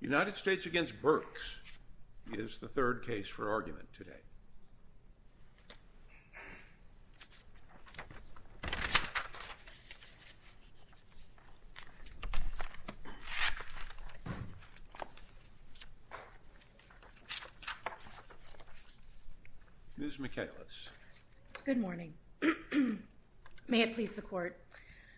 United States v. Burks is the third case for argument today. Ms. Michaelis. Good morning. May it please the Court,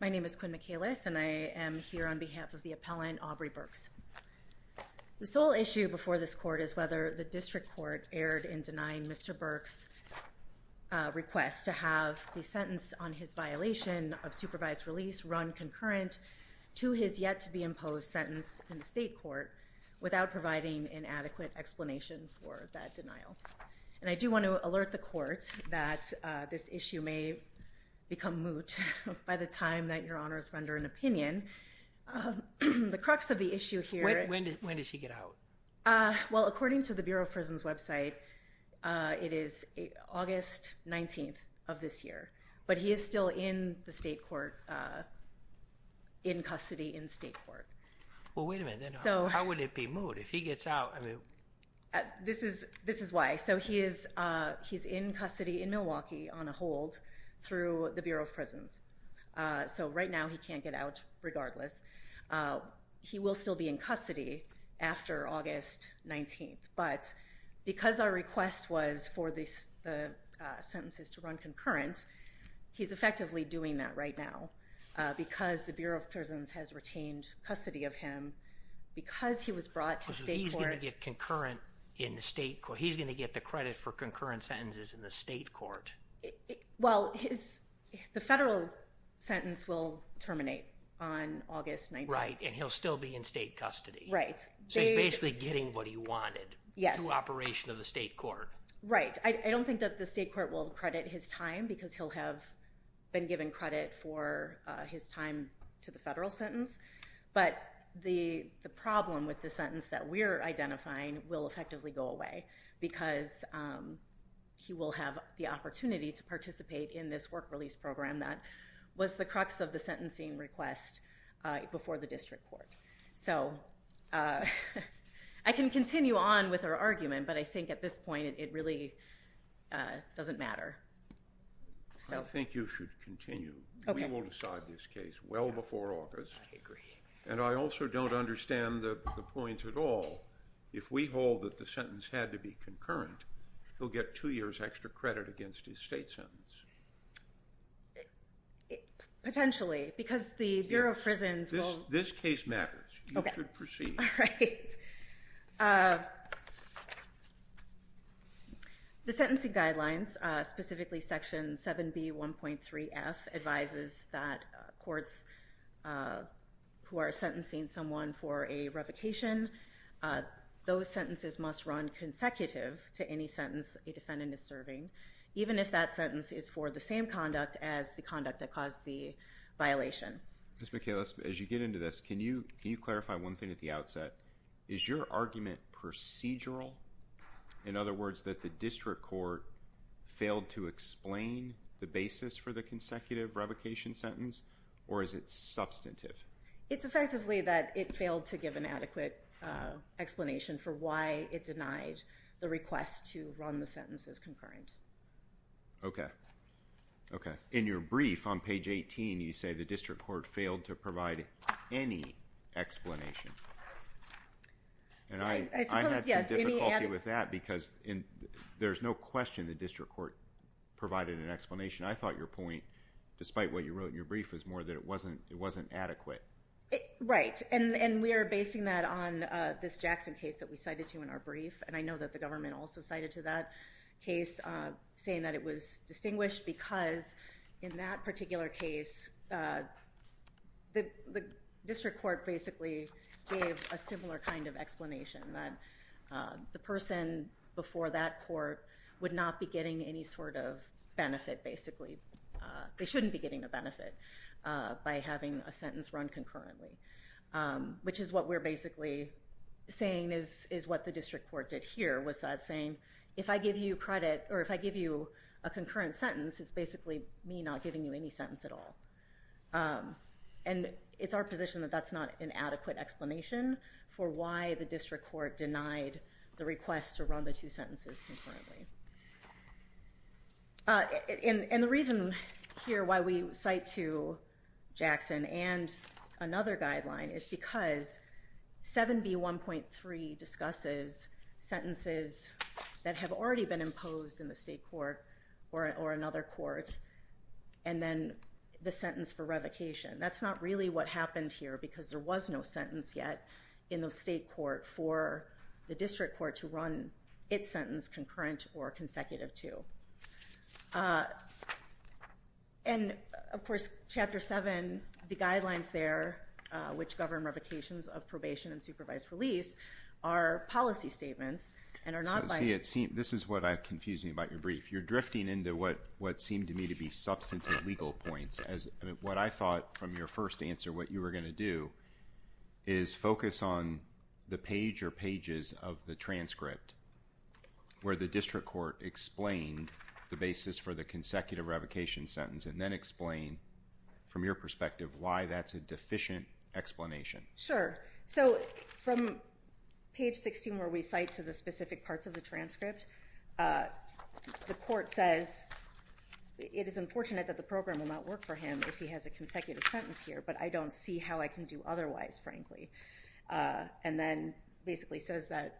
My name is Quinn Michaelis, and I am here on behalf of the appellant, Aubrey Burks. The sole issue before this Court is whether the district court erred in denying Mr. Burks' request to have the sentence on his violation of supervised release run concurrent to his yet-to-be-imposed sentence in the state court without providing an adequate explanation for that denial. And I do want to alert the Court that this issue may become moot by the time that Your Honors render an opinion. The crux of the issue here... When does he get out? Well, according to the Bureau of Prisons website, it is August 19th of this year, but he is still in the state court, in custody in state court. Well, wait a minute. How would it be moot if he gets out? This is why. So he is in custody in Milwaukee on a hold through the Bureau of Prisons. So right now he can't get out regardless. He will still be in custody after August 19th, but because our request was for the sentences to run concurrent, he's effectively doing that right now. Because the Bureau of Prisons has retained custody of him, because he was brought to state court... So he's going to get the credit for concurrent sentences in the state court? Well, the federal sentence will terminate on August 19th. Right, and he'll still be in state custody. Right. So he's basically getting what he wanted through operation of the state court. Right. I don't think that the state court will credit his time, because he'll have been given credit for his time to the federal sentence, but the problem with the sentence that we're identifying will effectively go away, because he will have the opportunity to participate in this work release program that was the crux of the sentencing request before the district court. So I can continue on with our argument, but I think at this point it really doesn't matter. I think you should continue. Okay. We will decide this case well before August. I agree. And I also don't understand the point at all. If we hold that the sentence had to be concurrent, he'll get two years' extra credit against his state sentence. Potentially, because the Bureau of Prisons will... This case matters. Okay. You should proceed. All right. The sentencing guidelines, specifically Section 7B.1.3.F, advises that courts who are sentencing someone for a revocation, those sentences must run consecutive to any sentence a defendant is serving, even if that sentence is for the same conduct as the conduct that caused the violation. Ms. McHale, as you get into this, can you clarify one thing at the outset? Is your argument procedural? In other words, that the district court failed to explain the basis for the consecutive revocation sentence, or is it substantive? It's effectively that it failed to give an adequate explanation for why it denied the request to run the sentence as concurrent. Okay. Okay. In your brief on page 18, you say the district court failed to provide any explanation. And I had some difficulty with that because there's no question the district court provided an explanation. I thought your point, despite what you wrote in your brief, was more that it wasn't adequate. Right. And we are basing that on this Jackson case that we cited to in our brief, and I know that the government also cited to that case, saying that it was distinguished because in that particular case, the district court basically gave a similar kind of explanation, that the person before that court would not be getting any sort of benefit, basically. They shouldn't be getting a benefit by having a sentence run concurrently, which is what we're basically saying is what the district court did here, was that saying, if I give you credit or if I give you a concurrent sentence, it's basically me not giving you any sentence at all. And it's our position that that's not an adequate explanation for why the district court denied the request to run the two sentences concurrently. And the reason here why we cite to Jackson and another guideline is because 7B1.3 discusses sentences that have already been imposed in the state court or another court, and then the sentence for revocation. That's not really what happened here because there was no sentence yet in the state court for the district court to run its sentence concurrent or consecutive to. And of course, Chapter 7, the guidelines there, which govern revocations of probation and supervised release, are policy statements and are not by- So see, this is what confused me about your brief. If you're drifting into what seemed to me to be substantive legal points, what I thought from your first answer, what you were going to do is focus on the page or pages of the transcript where the district court explained the basis for the consecutive revocation sentence and then explain from your perspective why that's a deficient explanation. Sure. So from page 16 where we cite to the specific parts of the transcript, the court says it is unfortunate that the program will not work for him if he has a consecutive sentence here, but I don't see how I can do otherwise, frankly. And then basically says that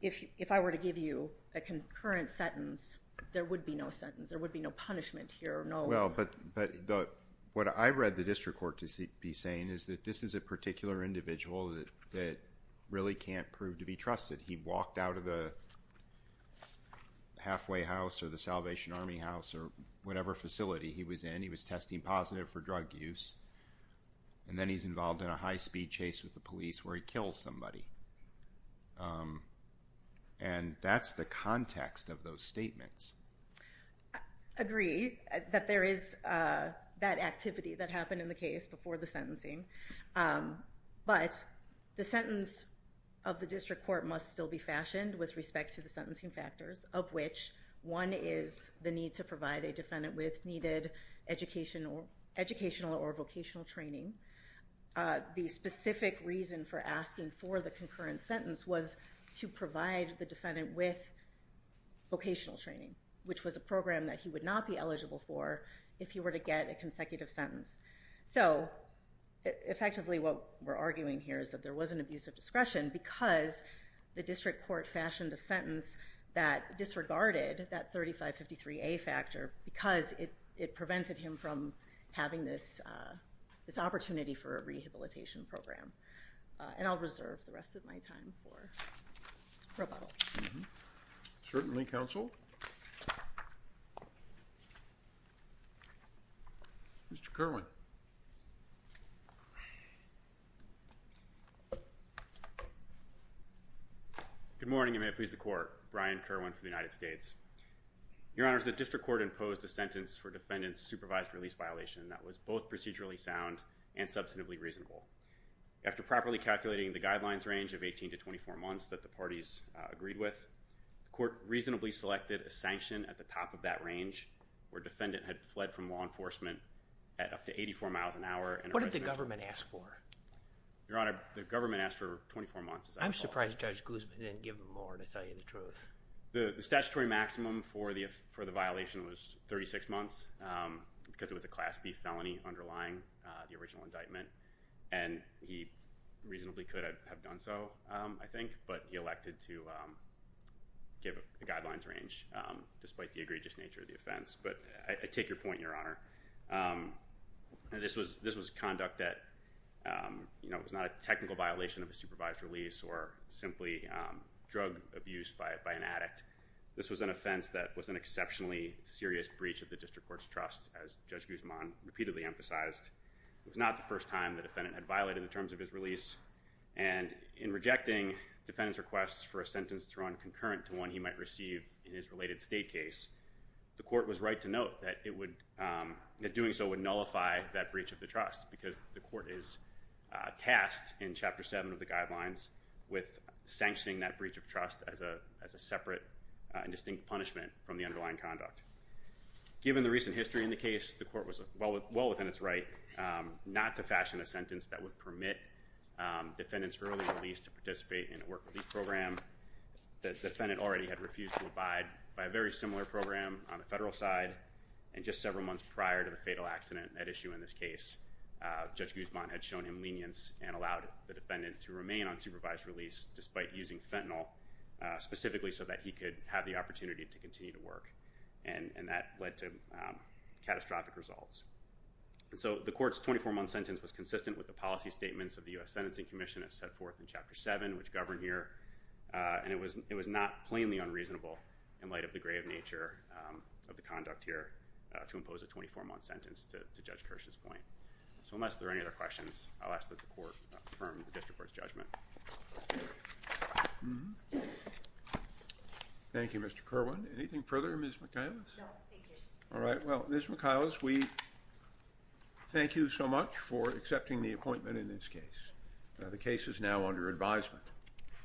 if I were to give you a concurrent sentence, there would be no sentence. There would be no punishment here. Well, but what I read the district court to be saying is that this is a particular individual that really can't prove to be trusted. He walked out of the halfway house or the Salvation Army house or whatever facility he was in. He was testing positive for drug use, and then he's involved in a high-speed chase with the police where he kills somebody. And that's the context of those statements. I agree that there is that activity that happened in the case before the sentencing, but the sentence of the district court must still be fashioned with respect to the sentencing factors, of which one is the need to provide a defendant with needed educational or vocational training. The specific reason for asking for the concurrent sentence was to provide the defendant with vocational training, which was a program that he would not be eligible for if he were to get a consecutive sentence. So effectively what we're arguing here is that there was an abuse of discretion because the district court fashioned a sentence that disregarded that 3553A factor because it prevented him from having this opportunity for a rehabilitation program. And I'll reserve the rest of my time for rebuttal. Certainly, counsel. Mr. Kerwin. Good morning, and may it please the court. Brian Kerwin for the United States. Your Honor, the district court imposed a sentence for defendant's supervised release violation that was both procedurally sound and substantively reasonable. After properly calculating the guidelines range of 18 to 24 months that the parties agreed with, the court reasonably selected a sanction at the top of that range where defendant had fled from law enforcement at up to 84 miles an hour. What did the government ask for? Your Honor, the government asked for 24 months. I'm surprised Judge Guzman didn't give him more to tell you the truth. The statutory maximum for the violation was 36 months because it was a Class B felony underlying the original indictment. And he reasonably could have done so, I think, but he elected to give a guidelines range despite the egregious nature of the offense. But I take your point, Your Honor. This was conduct that was not a technical violation of a supervised release or simply drug abuse by an addict. This was an offense that was an exceptionally serious breach of the district court's trust, as Judge Guzman repeatedly emphasized. It was not the first time the defendant had violated the terms of his release. And in rejecting defendant's request for a sentence thrown concurrent to one he might receive in his related state case, the court was right to note that doing so would nullify that breach of the trust because the court is tasked in Chapter 7 of the guidelines with sanctioning that breach of trust as a separate and distinct punishment from the underlying conduct. Given the recent history in the case, the court was well within its right not to fashion a sentence that would permit defendants early release to participate in a work-relief program. The defendant already had refused to abide by a very similar program on the federal side and just several months prior to the fatal accident at issue in this case, Judge Guzman had shown him lenience and allowed the defendant to remain on supervised release despite using fentanyl specifically so that he could have the opportunity to continue to work. And that led to catastrophic results. So the court's 24-month sentence was consistent with the policy statements of the U.S. Sentencing Commission as set forth in Chapter 7, which govern here. And it was not plainly unreasonable in light of the grave nature of the conduct here to impose a 24-month sentence to Judge Kirsch's point. So unless there are any other questions, I'll ask that the court affirm the district court's judgment. Thank you, Mr. Kirwan. Anything further, Ms. McIlis? No, thank you. All right, well, Ms. McIlis, we thank you so much for accepting the appointment in this case. The case is now under advisement.